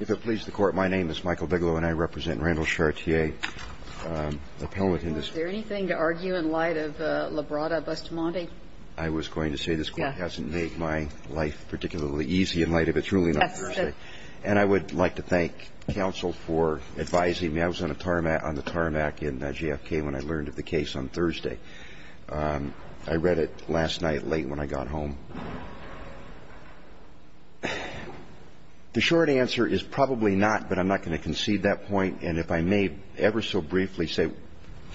If it pleases the Court, my name is Michael Bigelow, and I represent Randall Chartier appellate in this case. Was there anything to argue in light of Labrada-Bustamante? I was going to say this Court hasn't made my life particularly easy in light of it's ruling on Thursday. And I would like to thank counsel for advising me. I was on the tarmac in JFK when I learned of the case on Thursday. I read it last night late when I got home. The short answer is probably not, but I'm not going to concede that point. And if I may ever so briefly say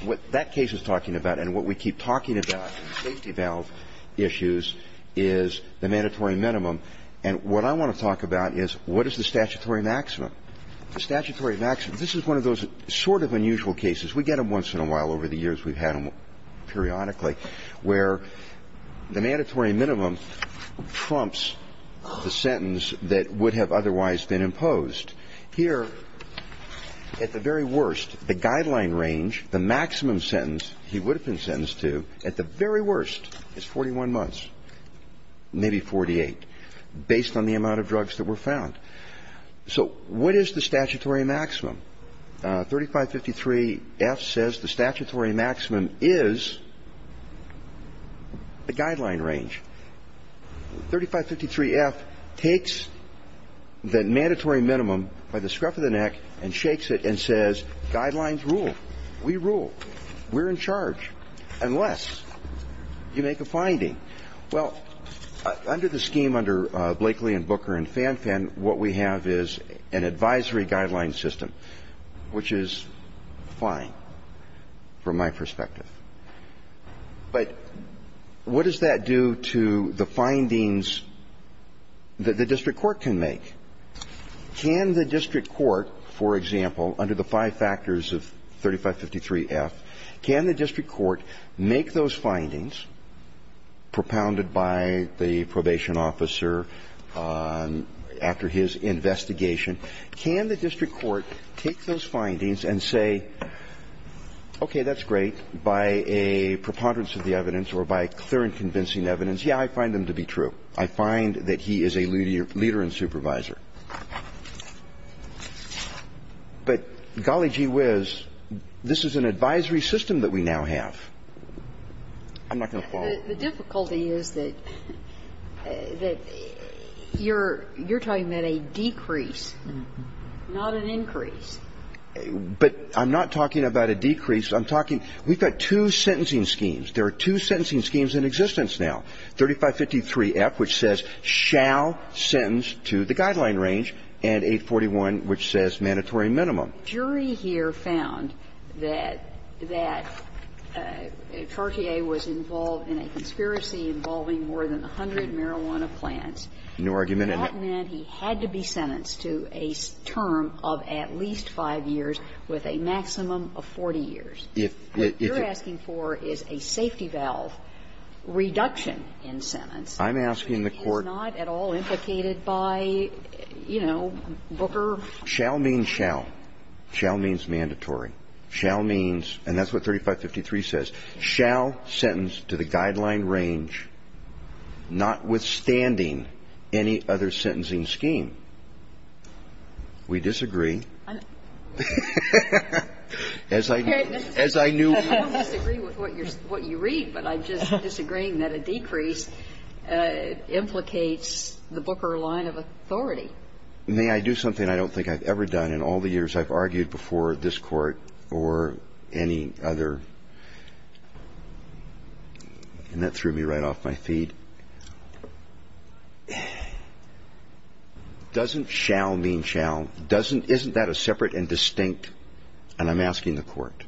what that case is talking about and what we keep talking about in safety valve issues is the mandatory minimum. And what I want to talk about is what is the statutory maximum? The statutory maximum, this is one of those sort of unusual cases. We get them once in a while over the years. We've had them periodically where the mandatory minimum trumps the sentence that would have otherwise been imposed. Here, at the very worst, the guideline range, the maximum sentence he would have been sentenced to at the very worst is 41 months, maybe 48, based on the amount of drugs that were found. So what is the statutory maximum? 3553-F says the statutory maximum is the guideline range. 3553-F takes the mandatory minimum by the scruff of the neck and shakes it and says guidelines rule. We rule. Well, under the scheme, under Blakely and Booker and Fanfan, what we have is an advisory guideline system, which is fine from my perspective. But what does that do to the findings that the district court can make? Can the district court, for example, under the five factors of 3553-F, can the district court make those findings propounded by the probation officer after his investigation, can the district court take those findings and say, okay, that's great, by a preponderance of the evidence or by clear and convincing evidence, yeah, I find them to be true. I find that he is a leader and supervisor. But golly gee whiz, this is an advisory system that we now have. I'm not going to follow. The difficulty is that you're talking about a decrease, not an increase. But I'm not talking about a decrease. I'm talking we've got two sentencing schemes. There are two sentencing schemes in existence now. 3553-F, which says shall sentence to the guideline range, and 841, which says mandatory minimum. The jury here found that Chartier was involved in a conspiracy involving more than 100 marijuana plants. No argument in that. That meant he had to be sentenced to a term of at least 5 years with a maximum of 40 years. If you're asking for is a safety valve reduction in sentence. I'm asking the court. Which is not at all implicated by, you know, Booker. Shall means shall. Shall means mandatory. Shall means, and that's what 3553 says, shall sentence to the guideline range, notwithstanding any other sentencing scheme. We disagree. As I knew. I don't disagree with what you read, but I'm just disagreeing that a decrease implicates the Booker line of authority. May I do something I don't think I've ever done in all the years I've argued before this court or any other? And that threw me right off my feet. Doesn't shall mean shall doesn't. Isn't that a separate and distinct. And I'm asking the court.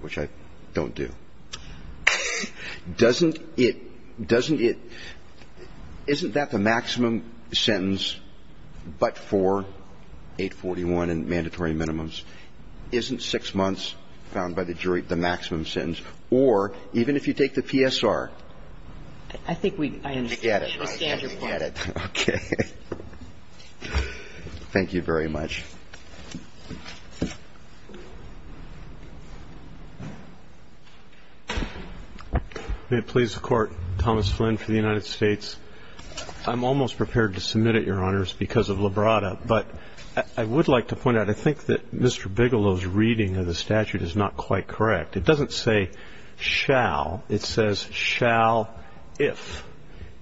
Which I don't do. Doesn't it doesn't it. Isn't that the maximum sentence. But for 841 and mandatory minimums. Isn't six months found by the jury. The maximum sentence or even if you take the PSR. I think we get it. Okay. Thank you very much. May it please the court. Thomas Flynn for the United States. I'm almost prepared to submit it, Your Honors, because of Labrada. But I would like to point out. I think that Mr. Bigelow's reading of the statute is not quite correct. It doesn't say shall. It says shall if.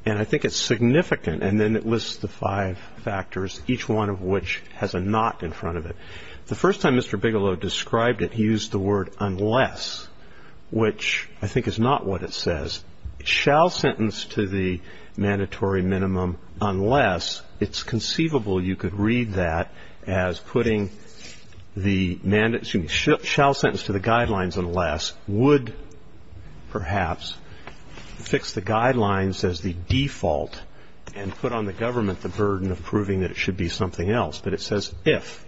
And I think it's significant. And then it lists the five factors, each one of which has a not in front of it. The first time Mr. Bigelow described it, he used the word unless. Which I think is not what it says. Shall sentence to the mandatory minimum unless. It's conceivable you could read that as putting the. Shall sentence to the guidelines unless would perhaps fix the guidelines as the default and put on the government the burden of proving that it should be something else. But it says if.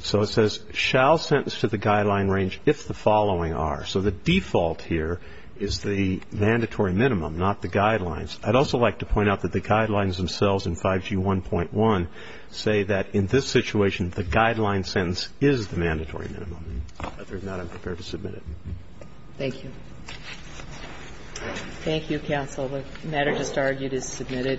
So it says shall sentence to the guideline range if the following are. So the default here is the mandatory minimum, not the guidelines. I'd also like to point out that the guidelines themselves in 5G 1.1 say that in this situation, the guideline sentence is the mandatory minimum. If not, I'm prepared to submit it. Thank you. Thank you, counsel. The matter just argued is submitted.